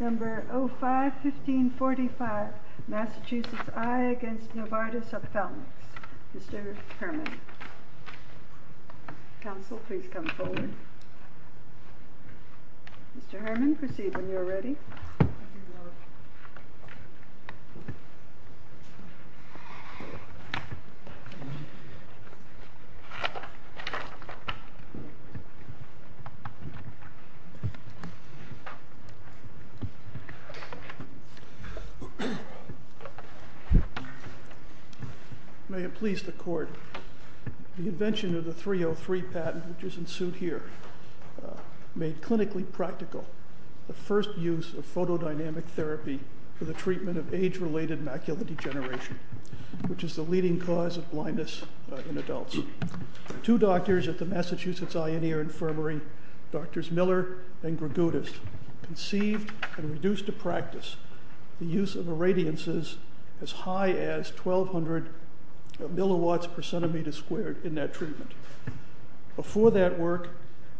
Number 051545 Massachusetts Eye v. Novartis Ophthalmics Mr. Herrmann Counsel, please come forward Mr. Herrmann, proceed when you are ready May it please the court, the invention of the 303 patent which is in suit here made clinically practical the first use of photodynamic therapy for the treatment of age-related macular degeneration, which is the leading cause of blindness in adults. Two doctors at the Massachusetts Eye and Ear Infirmary, Drs. Miller and Grigudis, conceived and reduced to practice the use of irradiances as high as 1,200 milliwatts per centimeter squared in that treatment. Before that work,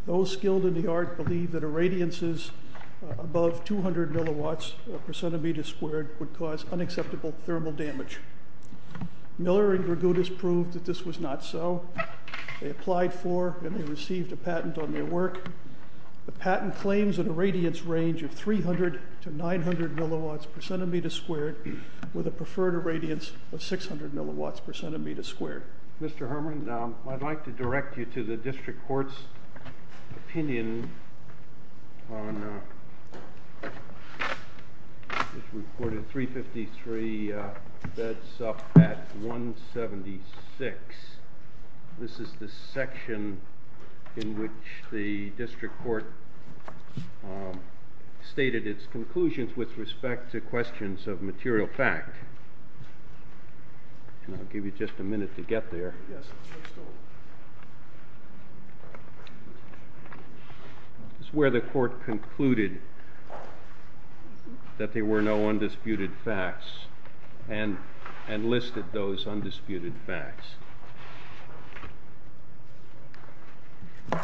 those skilled in the art believed that irradiances above 200 milliwatts per centimeter squared would cause unacceptable thermal damage. Miller and Grigudis proved that this was not so. They applied for and they received a patent on their work. The patent claims an irradiance range of 300 to 900 milliwatts per centimeter squared with a preferred irradiance of 600 milliwatts per centimeter squared. Mr. Herrmann, I'd like to direct you to the district court's opinion on this reported 353, that's up at 176. This is the section in which the district court stated its conclusions with respect to questions of material fact. And I'll give you just a minute to get there. This is where the court concluded that there were no undisputed facts and listed those undisputed facts. Is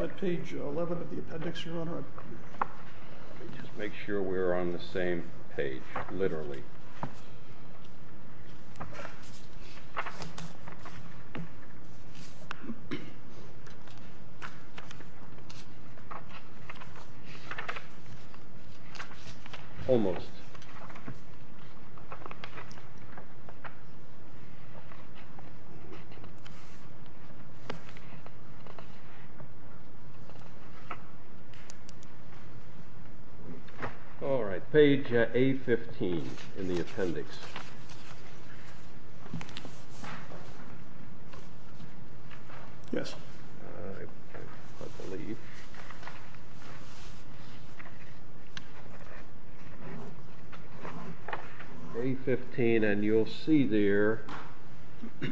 that page 11 of the appendix, Your Honor? Let me just make sure we're on the same page, literally. Almost. All right. Page A15 in the appendix. Yes. I believe. A15, and you'll see there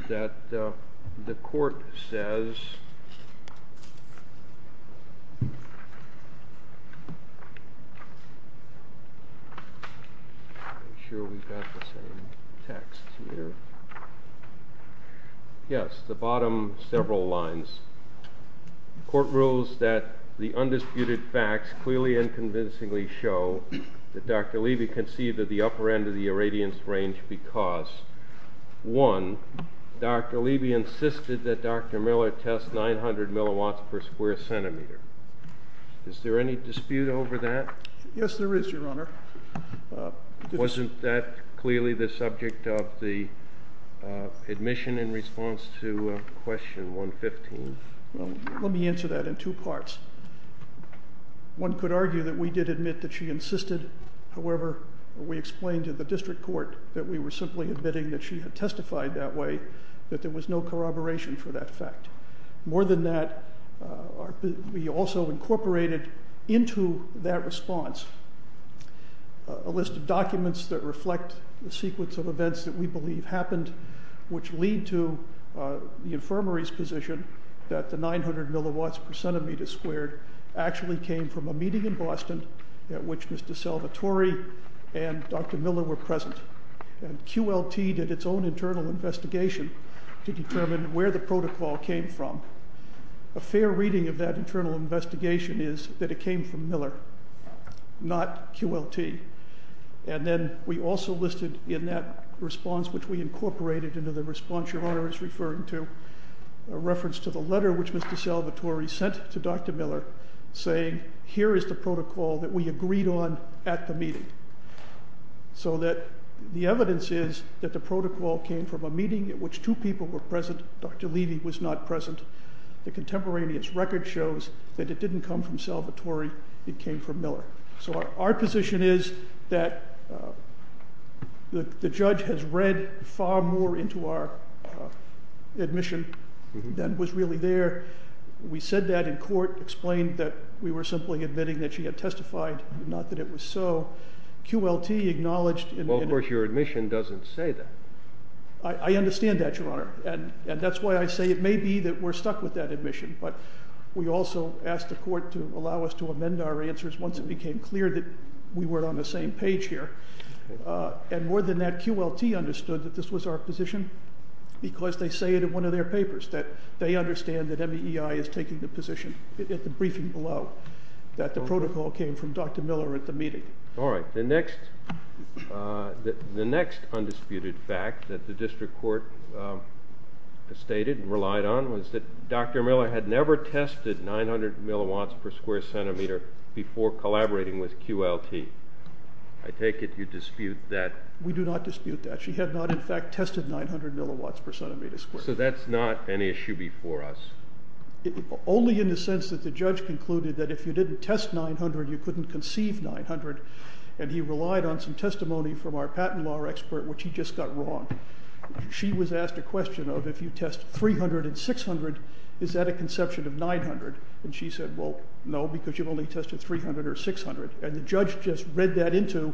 that the court says. I'm sure we've got the same text here. Yes, the bottom several lines. Court rules that the undisputed facts clearly and convincingly show that Dr. Levy conceived of the upper end of the irradiance range because, one, Dr. Levy insisted that Dr. Miller test 900 milliwatts per square centimeter. Is there any dispute over that? Yes, there is, Your Honor. Wasn't that clearly the subject of the admission in response to question 115? Well, let me answer that in two parts. One could argue that we did admit that she insisted. However, we explained to the district court that we were simply admitting that she had testified that way, that there was no corroboration for that fact. More than that, we also incorporated into that response a list of documents that reflect the sequence of events that we believe happened, which lead to the infirmary's position that the 900 milliwatts per centimeter squared actually came from a meeting in Boston at which Mr. Salvatore and Dr. Miller were present. And QLT did its own internal investigation to determine where the protocol came from. A fair reading of that internal investigation is that it came from Miller, not QLT. And then we also listed in that response, which we incorporated into the response Your Honor is referring to, a reference to the letter which Mr. Salvatore sent to Dr. Miller saying, here is the protocol that we agreed on at the meeting. So that the evidence is that the protocol came from a meeting in which two people were present. Dr. Levy was not present. The contemporaneous record shows that it didn't come from Salvatore. It came from Miller. So our position is that the judge has read far more into our admission than was really there. We said that in court, explained that we were simply admitting that she had testified, not that it was so. QLT acknowledged in the interview. Well, of course, your admission doesn't say that. I understand that, Your Honor. And that's why I say it may be that we're stuck with that admission. But we also asked the court to allow us to amend our answers once it became clear that we weren't on the same page here. And more than that, QLT understood that this was our position because they say it in one of their papers, that they understand that MEI is taking the position at the briefing below, that the protocol came from Dr. Miller at the meeting. All right. The next undisputed fact that the district court stated and relied on was that Dr. Miller had never tested 900 milliwatts per square centimeter before collaborating with QLT. I take it you dispute that. We do not dispute that. She had not, in fact, tested 900 milliwatts per centimeter squared. So that's not an issue before us. Only in the sense that the judge concluded that if you didn't test 900, you couldn't conceive 900. And he relied on some testimony from our patent law expert, which he just got wrong. She was asked a question of, if you test 300 and 600, is that a conception of 900? And she said, well, no, because you've only tested 300 or 600. And the judge just read that into,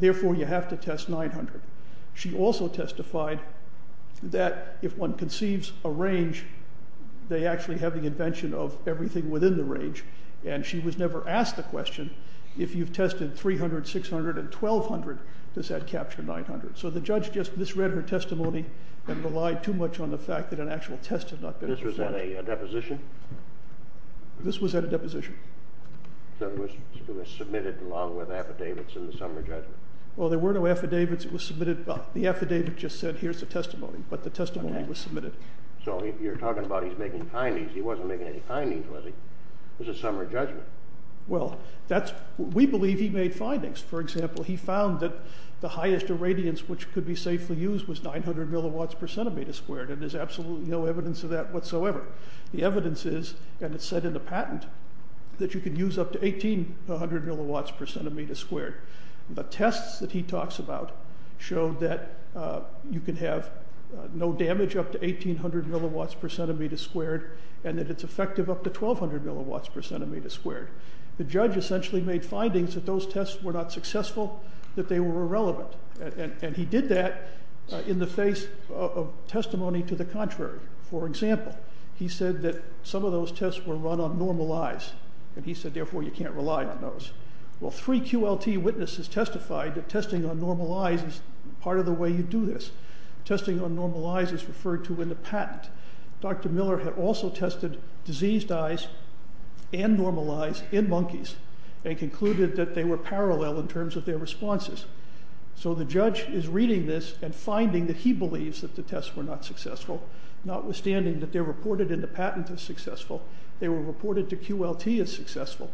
therefore, you have to test 900. She also testified that if one conceives a range, they actually have the invention of everything within the range. And she was never asked the question, if you've tested 300, 600, and 1,200, does that capture 900? So the judge just misread her testimony and relied too much on the fact that an actual test had not been assessed. This was at a deposition? This was at a deposition. So it was submitted along with affidavits in the summary judgment? Well, there were no affidavits. It was submitted. The affidavit just said, here's the testimony. But the testimony was submitted. So you're talking about he's making findings. He wasn't making any findings, was he? It was a summary judgment. Well, we believe he made findings. For example, he found that the highest irradiance which could be safely used was 900 milliwatts per centimeter squared. And there's absolutely no evidence of that whatsoever. The evidence is, and it's said in the patent, that you could use up to 1,800 milliwatts per centimeter squared. The tests that he talks about show that you can have no damage up to 1,800 milliwatts per centimeter squared and that it's effective up to 1,200 milliwatts per centimeter squared. The judge essentially made findings that those tests were not successful, that they were irrelevant. And he did that in the face of testimony to the contrary. For example, he said that some of those tests were run on normal eyes. And he said, therefore, you can't rely on those. Well, three QLT witnesses testified that testing on normal eyes is part of the way you do this. Testing on normal eyes is referred to in the patent. Dr. Miller had also tested diseased eyes and normal eyes in monkeys and concluded that they were parallel in terms of their responses. So the judge is reading this and finding that he believes that the tests were not successful. Notwithstanding that they're reported in the patent as successful, they were reported to QLT as successful.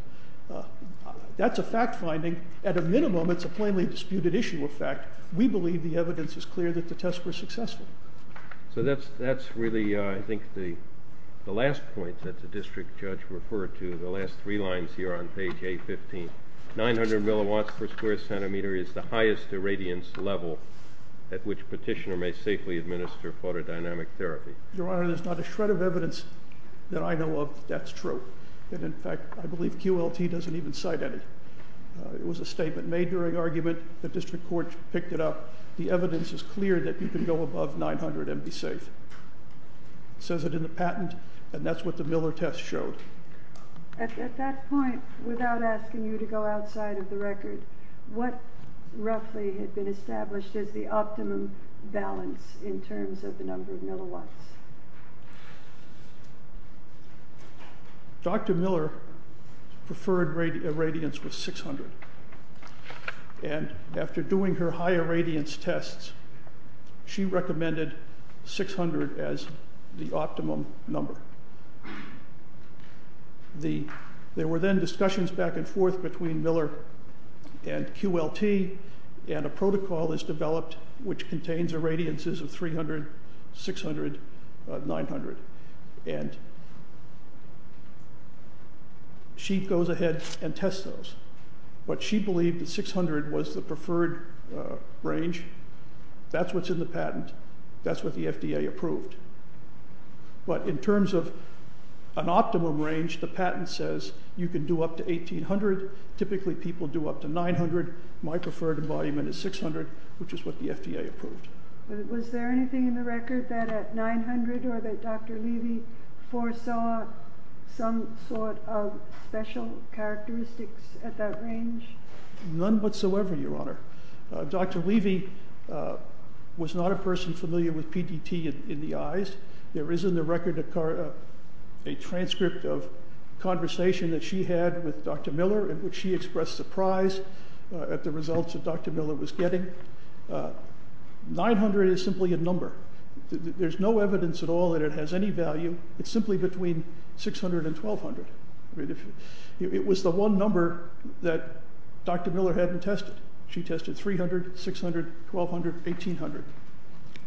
That's a fact finding. At a minimum, it's a plainly disputed issue of fact. We believe the evidence is clear that the tests were successful. So that's really, I think, the last point that the district judge referred to, the last three lines here on page A15. 900 milliwatts per square centimeter is the highest irradiance level at which petitioner may safely administer photodynamic therapy. Your Honor, there's not a shred of evidence that I know of that's true. And, in fact, I believe QLT doesn't even cite any. It was a statement made during argument. The district court picked it up. The evidence is clear that you can go above 900 and be safe. It says it in the patent, and that's what the Miller test showed. At that point, without asking you to go outside of the record, what roughly had been established as the optimum balance in terms of the number of milliwatts? Dr. Miller preferred irradiance with 600. And after doing her higher irradiance tests, she recommended 600 as the optimum number. There were then discussions back and forth between Miller and QLT, and a protocol is developed which contains irradiances of 300, 600, 900. And she goes ahead and tests those. But she believed that 600 was the preferred range. That's what's in the patent. That's what the FDA approved. But in terms of an optimum range, the patent says you can do up to 1800. Typically, people do up to 900. My preferred embodiment is 600, which is what the FDA approved. Was there anything in the record that at 900 or that Dr. Levy foresaw some sort of special characteristics at that range? None whatsoever, Your Honor. Dr. Levy was not a person familiar with PDT in the eyes. There is in the record a transcript of conversation that she had with Dr. Miller in which she expressed surprise at the results that Dr. Miller was getting. 900 is simply a number. There's no evidence at all that it has any value. It's simply between 600 and 1,200. It was the one number that Dr. Miller hadn't tested. She tested 300, 600, 1,200, 1,800.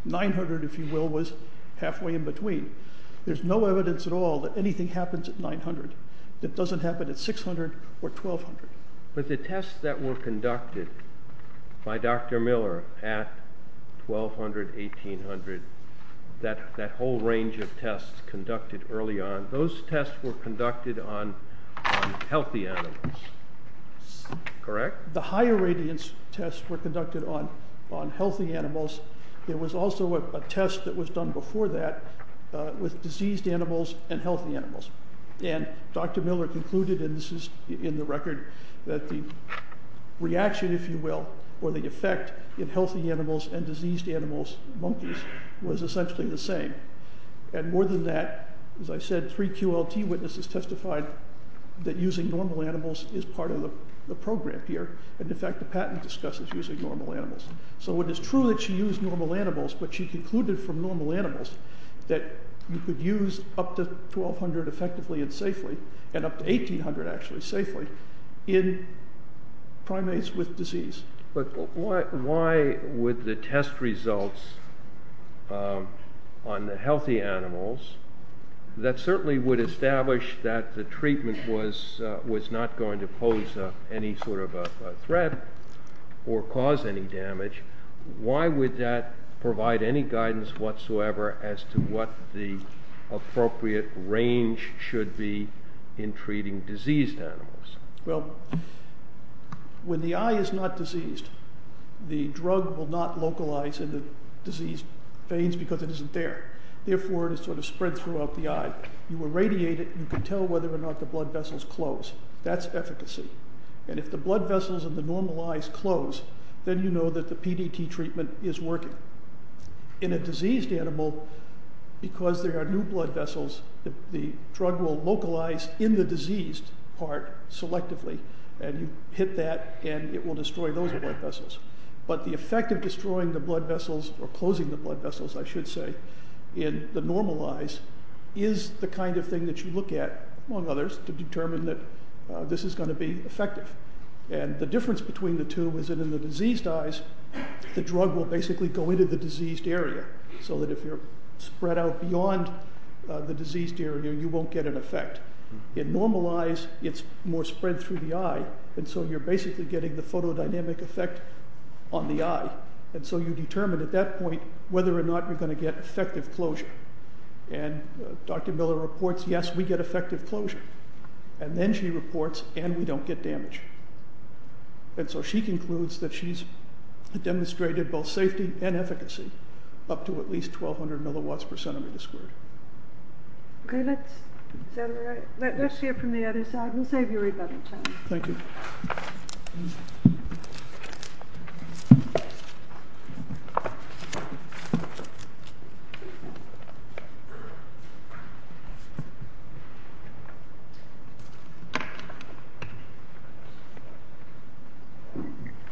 900, if you will, was halfway in between. There's no evidence at all that anything happens at 900. It doesn't happen at 600 or 1,200. But the tests that were conducted by Dr. Miller at 1,200, 1,800, that whole range of tests conducted early on, those tests were conducted on healthy animals, correct? The higher radiance tests were conducted on healthy animals. There was also a test that was done before that with diseased animals and healthy animals. And Dr. Miller concluded, and this is in the record, that the reaction, if you will, or the effect in healthy animals and diseased animals, monkeys, was essentially the same. And more than that, as I said, three QLT witnesses testified that using normal animals is part of the program here, and in fact the patent discusses using normal animals. So it is true that she used normal animals, but she concluded from normal animals that you could use up to 1,200 effectively and safely, and up to 1,800 actually safely, in primates with disease. But why would the test results on the healthy animals, that certainly would establish that the treatment was not going to pose any sort of a threat or cause any damage, why would that provide any guidance whatsoever as to what the appropriate range should be in treating diseased animals? Well, when the eye is not diseased, the drug will not localize in the diseased veins because it isn't there. Therefore, it is sort of spread throughout the eye. You irradiate it, and you can tell whether or not the blood vessels close. That's efficacy. And if the blood vessels in the normal eyes close, then you know that the PDT treatment is working. In a diseased animal, because there are new blood vessels, the drug will localize in the diseased part selectively, and you hit that, and it will destroy those blood vessels. But the effect of destroying the blood vessels, or closing the blood vessels, I should say, in the normal eyes is the kind of thing that you look at, among others, to determine that this is going to be effective. And the difference between the two is that in the diseased eyes, the drug will basically go into the diseased area, so that if you're spread out beyond the diseased area, you won't get an effect. In normal eyes, it's more spread through the eye, and so you're basically getting the photodynamic effect on the eye. And so you determine at that point whether or not you're going to get effective closure. And Dr. Miller reports, yes, we get effective closure. And then she reports, and we don't get damage. And so she concludes that she's demonstrated both safety and efficacy up to at least 1,200 milliwatts per centimeter squared. Okay, let's hear from the other side. We'll save you a little time. Thank you.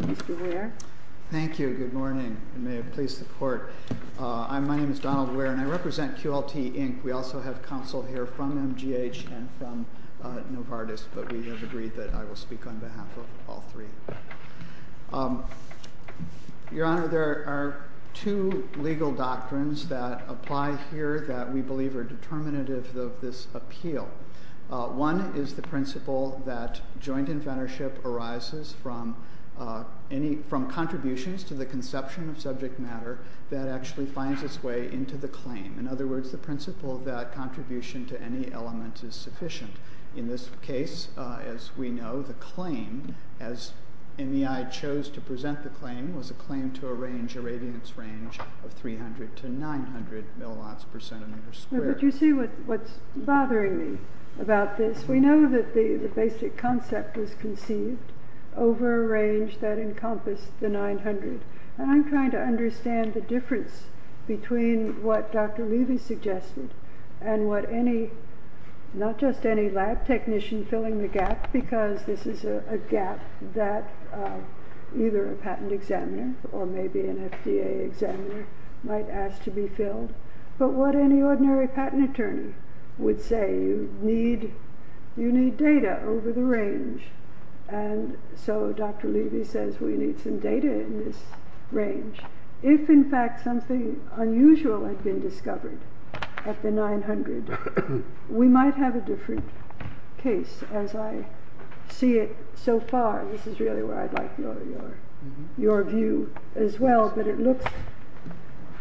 Mr. Ware. Thank you. Good morning, and may it please the Court. My name is Donald Ware, and I represent QLT, Inc. We also have counsel here from MGH and from Novartis, but we have agreed that I will speak on behalf of all three. Your Honor, there are two legal doctrines that apply here that we believe are determinative of this appeal. One is the principle that joint inventorship arises from contributions to the conception of subject matter that actually finds its way into the claim. In other words, the principle that contribution to any element is sufficient. In this case, as we know, the claim, as NEI chose to present the claim, was a claim to arrange a radiance range of 300 to 900 milliwatts per centimeter squared. But you see what's bothering me about this. We know that the basic concept was conceived over a range that encompassed the 900. And I'm trying to understand the difference between what Dr. Levy suggested and what not just any lab technician filling the gap, because this is a gap that either a patent examiner or maybe an FDA examiner might ask to be filled, but what any ordinary patent attorney would say. You need data over the range. And so Dr. Levy says we need some data in this range. If in fact something unusual had been discovered at the 900, we might have a different case as I see it so far. This is really where I'd like your view as well, but it looks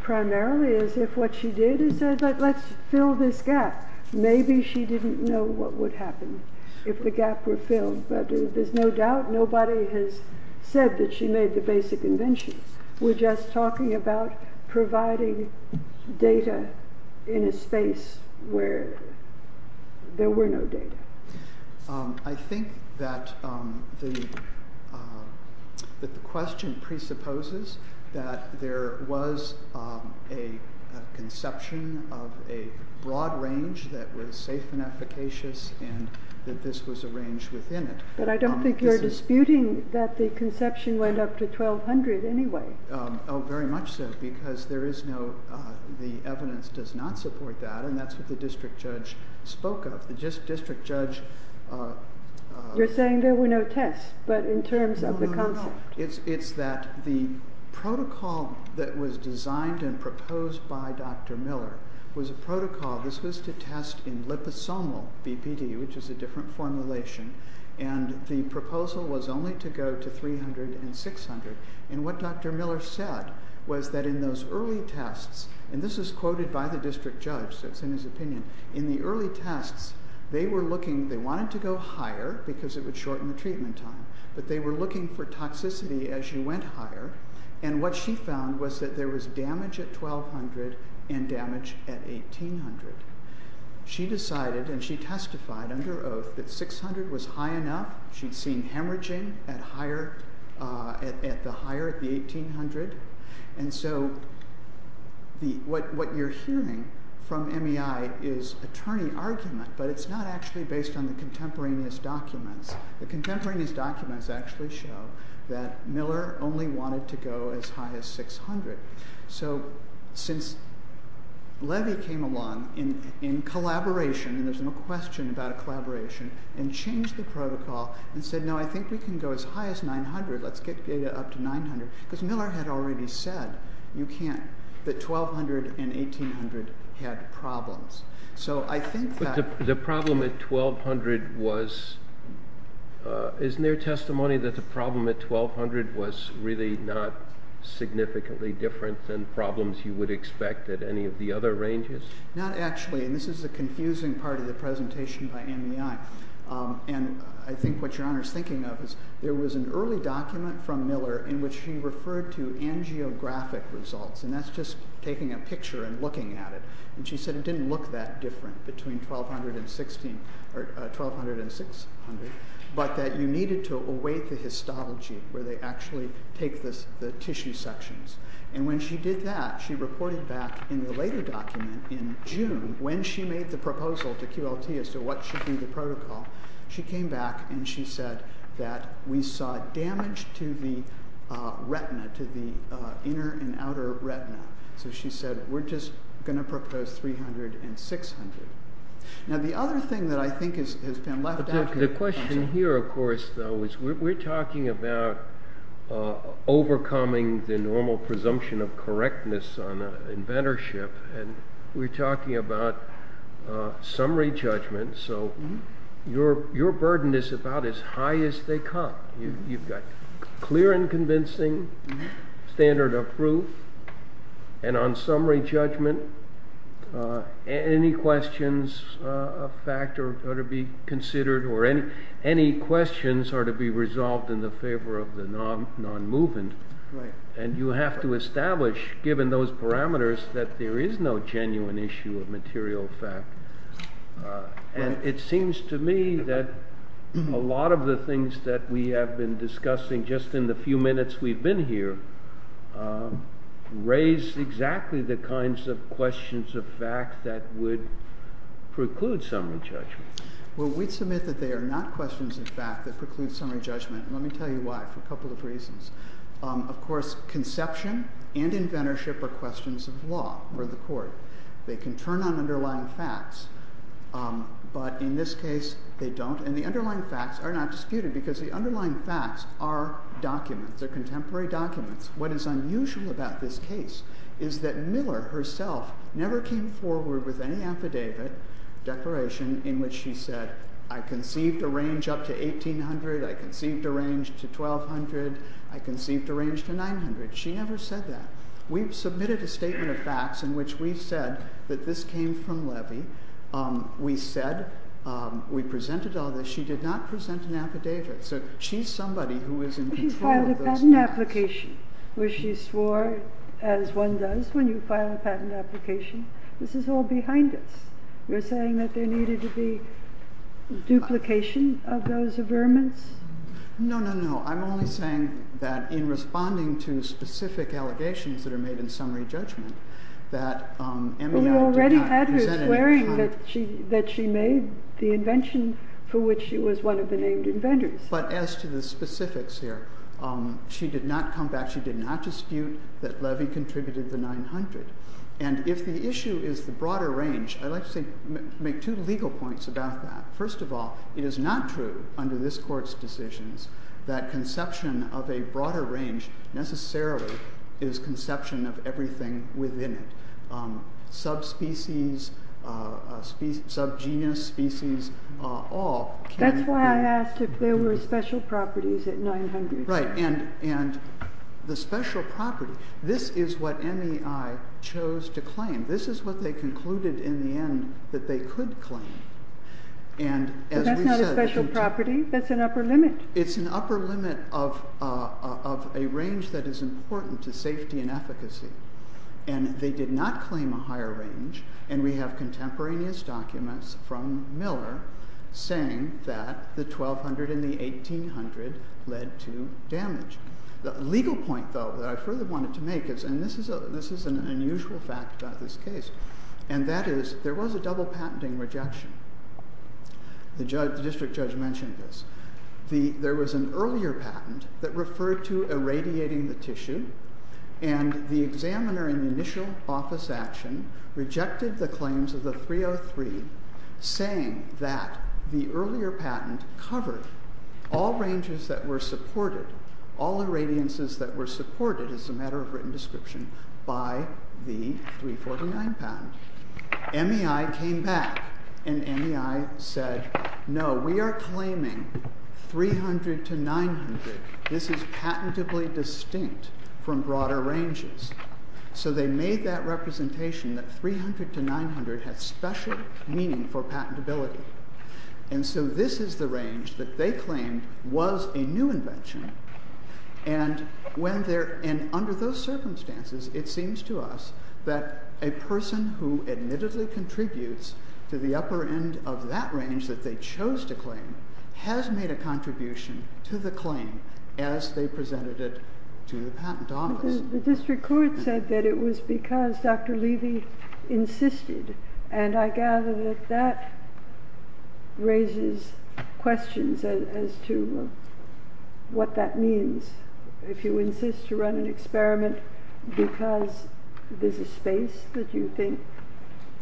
primarily as if what she did is said, let's fill this gap. Maybe she didn't know what would happen if the gap were filled, but there's no doubt nobody has said that she made the basic invention. We're just talking about providing data in a space where there were no data. I think that the question presupposes that there was a conception of a broad range that was safe and efficacious and that this was arranged within it. But I don't think you're disputing that the conception went up to 1,200 anyway. Oh, very much so, because the evidence does not support that, and that's what the district judge spoke of. You're saying there were no tests, but in terms of the concept. No, it's that the protocol that was designed and proposed by Dr. Miller was a protocol. This was to test in liposomal BPD, which is a different formulation, and the proposal was only to go to 300 and 600. What Dr. Miller said was that in those early tests, and this is quoted by the district judge, so it's in his opinion, in the early tests they were looking. They wanted to go higher because it would shorten the treatment time, but they were looking for toxicity as you went higher. And what she found was that there was damage at 1,200 and damage at 1,800. She decided and she testified under oath that 600 was high enough. She'd seen hemorrhaging at the higher, at the 1,800. And so what you're hearing from MEI is attorney argument, but it's not actually based on the contemporaneous documents. The contemporaneous documents actually show that Miller only wanted to go as high as 600. So since Levy came along in collaboration, and there's no question about a collaboration, and changed the protocol and said, no, I think we can go as high as 900, let's get data up to 900, because Miller had already said you can't, that 1,200 and 1,800 had problems. But the problem at 1,200 was, isn't there testimony that the problem at 1,200 was really not significantly different than problems you would expect at any of the other ranges? Not actually. And this is the confusing part of the presentation by MEI. And I think what your Honor is thinking of is there was an early document from Miller in which she referred to angiographic results, and that's just taking a picture and looking at it. And she said it didn't look that different between 1,200 and 1,600, but that you needed to await the histology, where they actually take the tissue sections. And when she did that, she reported back in the later document in June, when she made the proposal to QLT as to what should be the protocol, she came back and she said that we saw damage to the retina, to the inner and outer retina. So she said, we're just going to propose 300 and 600. Now the other thing that I think has been left out here. The question here, of course, though, is we're talking about overcoming the normal presumption of correctness on inventorship, and we're talking about summary judgment. So your burden is about as high as they come. You've got clear and convincing, standard of proof. And on summary judgment, any questions of fact are to be considered or any questions are to be resolved in the favor of the non-movement. And you have to establish, given those parameters, that there is no genuine issue of material fact. And it seems to me that a lot of the things that we have been discussing just in the few minutes we've been here raise exactly the kinds of questions of fact that would preclude summary judgment. Well, we'd submit that they are not questions of fact that preclude summary judgment, and let me tell you why, for a couple of reasons. Of course, conception and inventorship are questions of law or the court. They can turn on underlying facts, but in this case they don't. And the underlying facts are not disputed because the underlying facts are documents, they're contemporary documents. What is unusual about this case is that Miller herself never came forward with any affidavit declaration in which she said, I conceived a range up to 1,800, I conceived a range to 1,200, I conceived a range to 900. She never said that. We've submitted a statement of facts in which we've said that this came from Levy. We said we presented all this. She did not present an affidavit. So she's somebody who is in control of those facts. But you filed a patent application, which you swore, as one does when you file a patent application. This is all behind us. You're saying that there needed to be duplication of those averments? No, no, no. I'm only saying that in responding to specific allegations that are made in summary judgment that MEI did not present an affidavit. Well, you already had her swearing that she made the invention for which it was one of the named inventors. But as to the specifics here, she did not come back, she did not dispute that Levy contributed the 900. And if the issue is the broader range, I'd like to make two legal points about that. First of all, it is not true under this Court's decisions that conception of a broader range necessarily is conception of everything within it. Subspecies, subgenus, species, all. That's why I asked if there were special properties at 900. Right. And the special property, this is what MEI chose to claim. This is what they concluded in the end that they could claim. That's not a special property. That's an upper limit. It's an upper limit of a range that is important to safety and efficacy. And they did not claim a higher range, and we have contemporaneous documents from Miller saying that the 1200 and the 1800 led to damage. The legal point, though, that I further wanted to make is, and this is an unusual fact about this case, and that is there was a double patenting rejection. The district judge mentioned this. There was an earlier patent that referred to irradiating the tissue and the examiner in the initial office action rejected the claims of the 303 saying that the earlier patent covered all ranges that were supported, all irradiances that were supported, as a matter of written description, by the 349 patent. MEI came back and MEI said, no, we are claiming 300 to 900. This is patentably distinct from broader ranges. So they made that representation that 300 to 900 had special meaning for patentability. And so this is the range that they claimed was a new invention. And under those circumstances, it seems to us that a person who admittedly contributes to the upper end of that range that they chose to claim has made a contribution to the claim as they presented it to the patent office. But the district court said that it was because Dr. Levy insisted. And I gather that that raises questions as to what that means. If you insist to run an experiment because there's a space that you think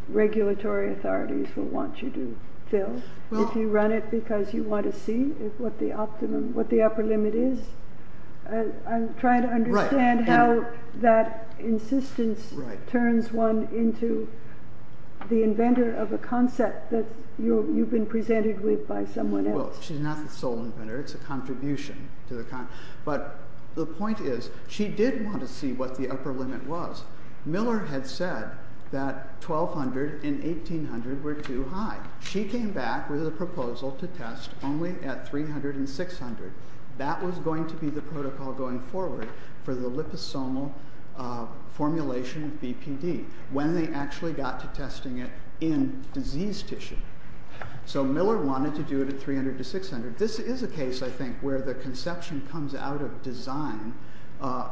regulatory authorities will want you to fill, if you run it because you want to see what the upper limit is, I'm trying to understand how that insistence turns one into the inventor of a concept that you've been presented with by someone else. Well, she's not the sole inventor. It's a contribution. But the point is she did want to see what the upper limit was. Miller had said that 1200 and 1800 were too high. She came back with a proposal to test only at 300 and 600. That was going to be the protocol going forward for the liposomal formulation of BPD when they actually got to testing it in disease tissue. So Miller wanted to do it at 300 to 600. This is a case, I think, where the conception comes out of design.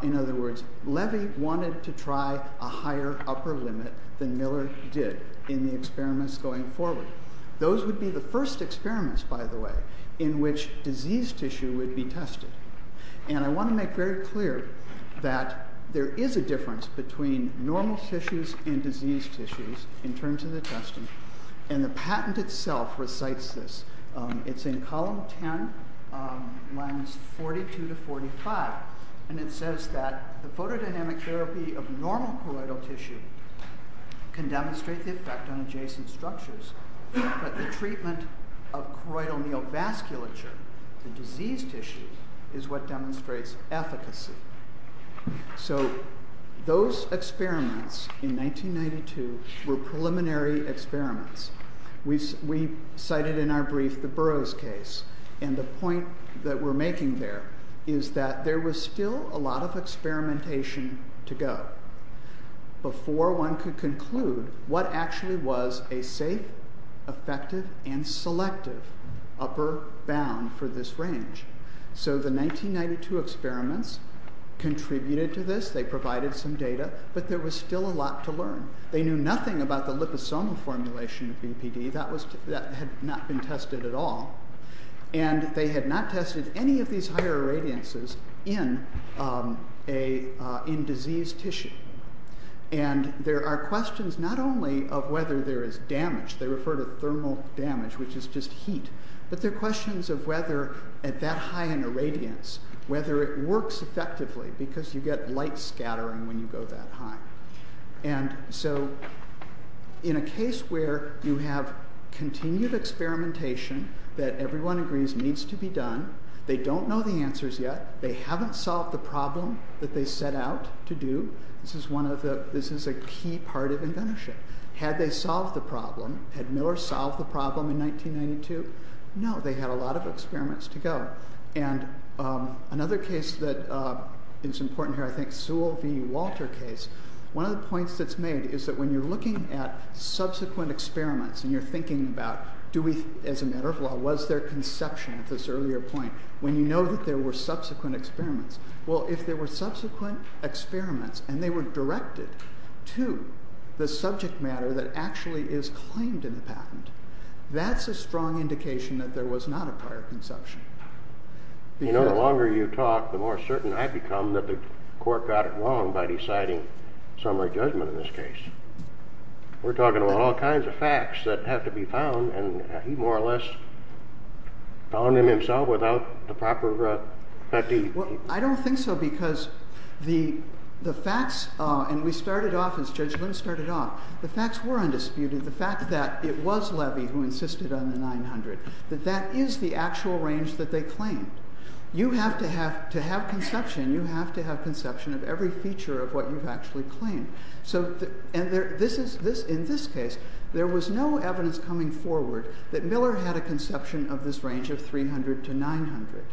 In other words, Levy wanted to try a higher upper limit than Miller did in the experiments going forward. Those would be the first experiments, by the way, in which disease tissue would be tested. And I want to make very clear that there is a difference between normal tissues and disease tissues in terms of the testing, and the patent itself recites this. It's in column 10, lines 42 to 45, and it says that the photodynamic therapy of normal choroidal tissue can demonstrate the effect on adjacent structures, but the treatment of choroidal neovasculature in disease tissue is what demonstrates efficacy. So those experiments in 1992 were preliminary experiments. We cited in our brief the Burroughs case, and the point that we're making there is that there was still a lot of experimentation to go before one could conclude what actually was a safe, effective, and selective upper bound for this range. So the 1992 experiments contributed to this. They provided some data, but there was still a lot to learn. They knew nothing about the liposomal formulation of BPD. That had not been tested at all. And they had not tested any of these higher irradiances in disease tissue. And there are questions not only of whether there is damage, they refer to thermal damage, which is just heat, but there are questions of whether at that high an irradiance, whether it works effectively, because you get light scattering when you go that high. And so in a case where you have continued experimentation that everyone agrees needs to be done, they don't know the answers yet, they haven't solved the problem that they set out to do, this is a key part of inventorship. Had they solved the problem, had Miller solved the problem in 1992? No, they had a lot of experiments to go. And another case that is important here, I think, Sewell v. Walter case, one of the points that's made is that when you're looking at subsequent experiments and you're thinking about, as a matter of law, was there conception at this earlier point, when you know that there were subsequent experiments, well, if there were subsequent experiments and they were directed to the subject matter that actually is claimed in the patent, that's a strong indication that there was not a prior conception. You know, the longer you talk, the more certain I become that the court got it wrong by deciding summary judgment in this case. We're talking about all kinds of facts that have to be found, and he more or less found them himself without the proper fatigue. Well, I don't think so, because the facts, and we started off, as Judge Lynn started off, the facts were undisputed, the fact that it was Levy who insisted on the 900, that that is the actual range that they claimed. To have conception, you have to have conception of every feature of what you've actually claimed. And in this case, there was no evidence coming forward that Miller had a conception of this range of 300 to 900.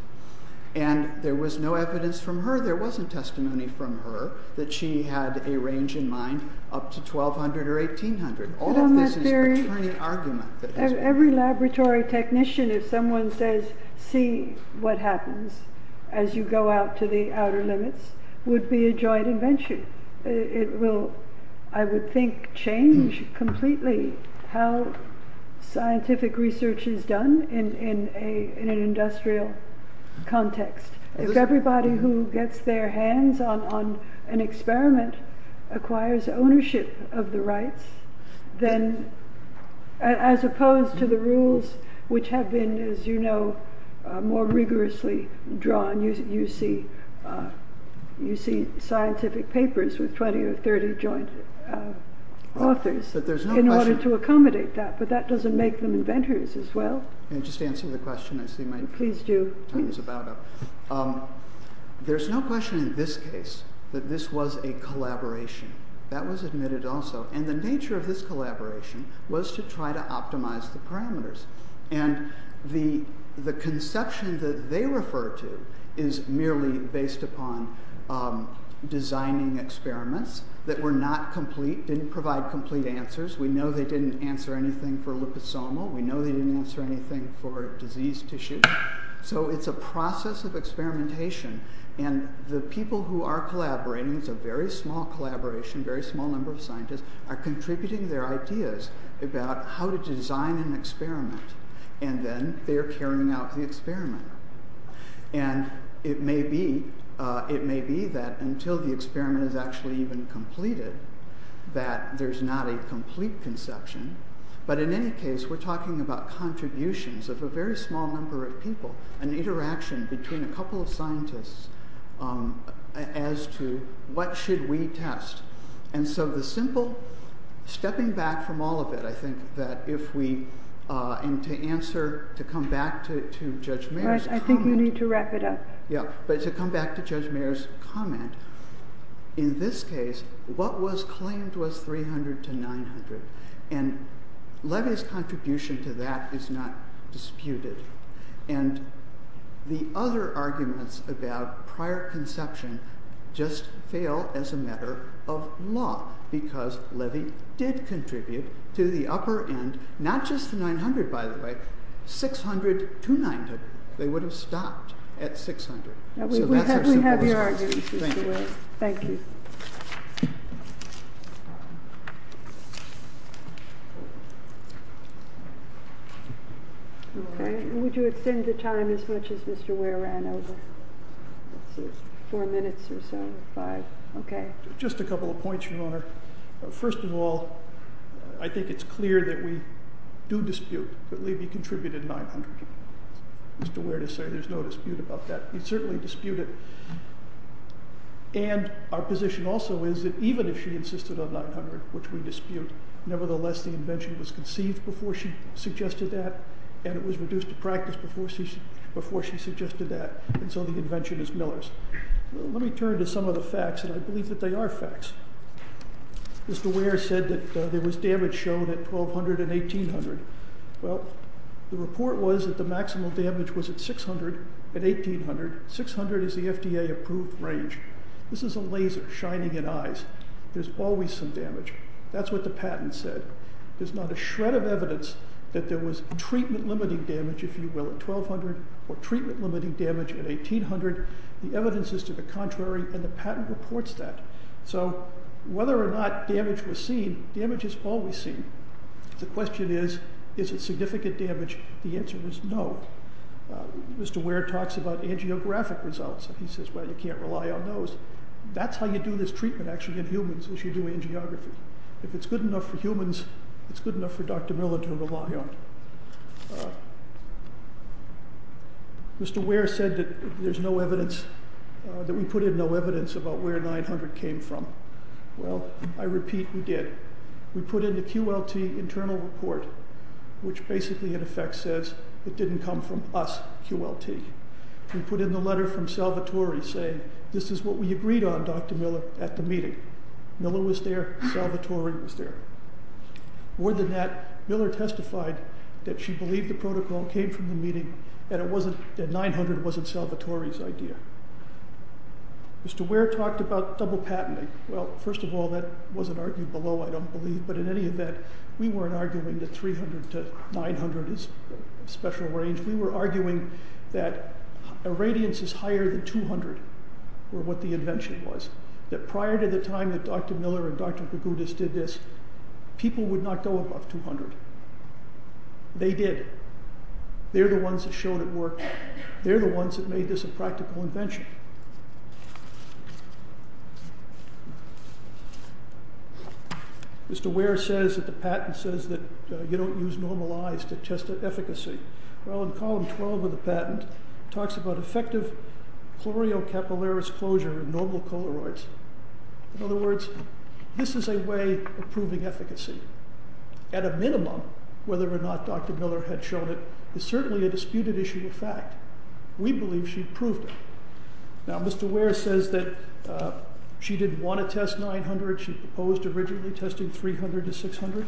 And there was no evidence from her, there wasn't testimony from her, that she had a range in mind up to 1,200 or 1,800. All of this is a returning argument. Every laboratory technician, if someone says, see what happens as you go out to the outer limits, would be a joint invention. It will, I would think, change completely how scientific research is done in an industrial context. If everybody who gets their hands on an experiment acquires ownership of the rights, then, as opposed to the rules which have been, as you know, more rigorously drawn, you see scientific papers with 20 or 30 joint authors, in order to accommodate that, but that doesn't make them inventors as well. Can I just answer the question? I see my time is about up. There's no question in this case that this was a collaboration. That was admitted also. And the nature of this collaboration was to try to optimize the parameters. And the conception that they refer to is merely based upon designing experiments that were not complete, didn't provide complete answers. We know they didn't answer anything for liposomal. We know they didn't answer anything for disease tissue. So it's a process of experimentation. And the people who are collaborating, it's a very small collaboration, very small number of scientists, are contributing their ideas about how to design an experiment. And then they're carrying out the experiment. And it may be that until the experiment is actually even completed, that there's not a complete conception. But in any case, we're talking about contributions of a very small number of people, an interaction between a couple of scientists as to what should we test. And so the simple stepping back from all of it, I think that if we, and to answer, to come back to Judge Mayer's comment. Right, I think you need to wrap it up. Yeah, but to come back to Judge Mayer's comment, in this case, what was claimed was 300 to 900. And Levy's contribution to that is not disputed. And the other arguments about prior conception just fail as a matter of law, because Levy did contribute to the upper end, not just the 900, by the way, 600 to 900. They would have stopped at 600. We have your argument. Thank you. Okay, would you extend the time as much as Mr. Ware ran over? Four minutes or so, five, okay. Just a couple of points, Your Honor. First of all, I think it's clear that we do dispute that Levy contributed 900. Mr. Ware did say there's no dispute about that. We certainly dispute it. And our position also is that even if she insisted on 900, which we dispute, nevertheless, the invention was conceived before she suggested that, and it was reduced to practice before she suggested that, and so the invention is Miller's. Let me turn to some of the facts, and I believe that they are facts. Mr. Ware said that there was damage shown at 1,200 and 1,800. Well, the report was that the maximal damage was at 600 and 1,800. 600 is the FDA-approved range. This is a laser shining in eyes. There's always some damage. That's what the patent said. There's not a shred of evidence that there was treatment-limiting damage, if you will, at 1,200 or treatment-limiting damage at 1,800. The evidence is to the contrary, and the patent reports that. So whether or not damage was seen, damage is always seen. The question is, is it significant damage? The answer is no. Mr. Ware talks about angiographic results, and he says, well, you can't rely on those. That's how you do this treatment, actually, in humans, is you do angiography. If it's good enough for humans, it's good enough for Dr. Miller to rely on. Mr. Ware said that there's no evidence, that we put in no evidence about where 900 came from. Well, I repeat, we did. We put in the QLT internal report, which basically, in effect, says it didn't come from us, QLT. We put in the letter from Salvatore saying, this is what we agreed on, Dr. Miller, at the meeting. Miller was there, Salvatore was there. More than that, Miller testified that she believed the protocol came from the meeting and that 900 wasn't Salvatore's idea. Mr. Ware talked about double patenting. Well, first of all, that wasn't argued below, I don't believe, but in any event, we weren't arguing that 300 to 900 is special range. We were arguing that a radiance is higher than 200, or what the invention was, that prior to the time that Dr. Miller and Dr. Kogutis did this, people would not go above 200. They did. They're the ones that showed it worked. They're the ones that made this a practical invention. Mr. Ware says that the patent says that you don't use normalized to test the efficacy. Well, in column 12 of the patent, it talks about effective chloreocapillaris closure in normal coloroids. In other words, this is a way of proving efficacy. At a minimum, whether or not Dr. Miller had shown it, is certainly a disputed issue of fact. We believe she proved it. Now, Mr. Ware says that she didn't want to test 900. She proposed originally testing 300 to 600.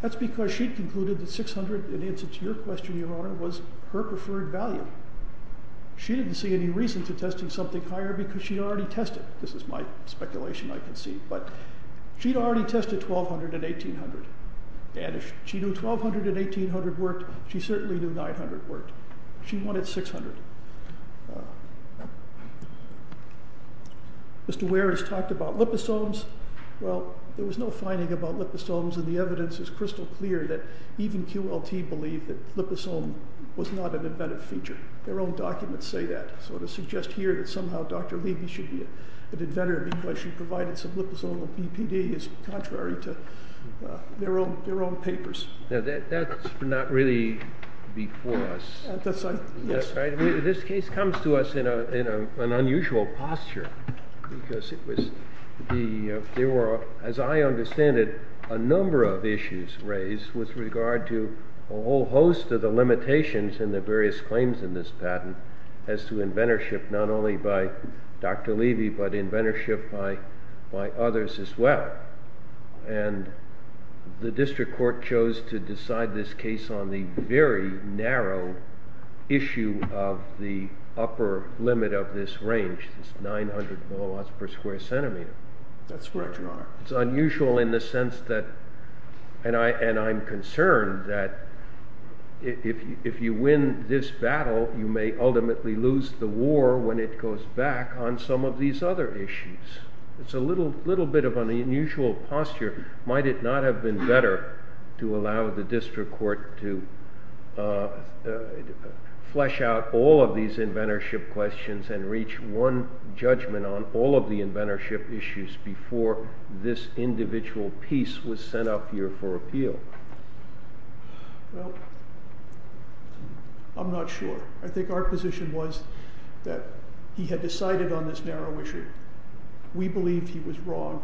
That's because she'd concluded that 600, in answer to your question, Your Honor, was her preferred value. She didn't see any reason to testing something higher because she'd already tested it. This is my speculation, I can see. But she'd already tested 1200 and 1800. And if she knew 1200 and 1800 worked, she certainly knew 900 worked. She wanted 600. Mr. Ware has talked about liposomes. Well, there was no finding about liposomes, and the evidence is crystal clear that even QLT believed that liposome was not an embedded feature. Their own documents say that. So to suggest here that somehow Dr. Levy should be an inventor because she provided some liposomal BPD is contrary to their own papers. Now, that's not really before us. That's right. This case comes to us in an unusual posture because there were, as I understand it, a number of issues raised with regard to a whole host of the limitations and the various claims in this patent as to inventorship not only by Dr. Levy, but inventorship by others as well. And the district court chose to decide this case on the very narrow issue of the upper limit of this range, this 900 milliwatts per square centimeter. That's correct, Your Honor. It's unusual in the sense that, and I'm concerned that if you win this battle, you may ultimately lose the war when it goes back on some of these other issues. It's a little bit of an unusual posture. Might it not have been better to allow the district court to flesh out all of these inventorship questions and reach one judgment on all of the inventorship issues before this individual piece was sent up here for appeal? Well, I'm not sure. I think our position was that he had decided on this narrow issue. We believed he was wrong.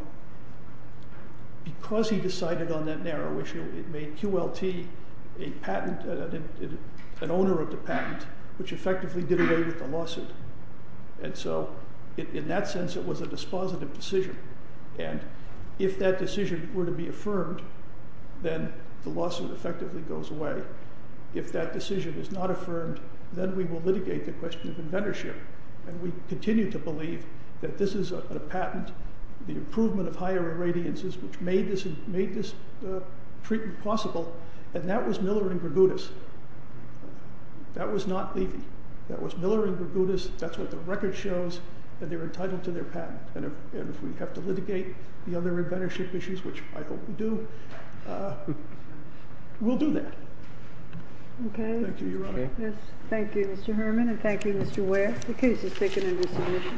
Because he decided on that narrow issue, it made QLT an owner of the patent, which effectively did away with the lawsuit. And so in that sense, it was a dispositive decision. And if that decision were to be affirmed, then the lawsuit effectively goes away. If that decision is not affirmed, then we will litigate the question of inventorship. And we continue to believe that this is a patent, the improvement of higher irradiances, which made this treatment possible. And that was Miller and Grigudis. That was not Levy. That was Miller and Grigudis. That's what the record shows. And they're entitled to their patent. And if we have to litigate the other inventorship issues, which I hope we do, we'll do that. Thank you, Your Honor. Thank you, Mr. Herman. And thank you, Mr. Ware. The case is taken into submission.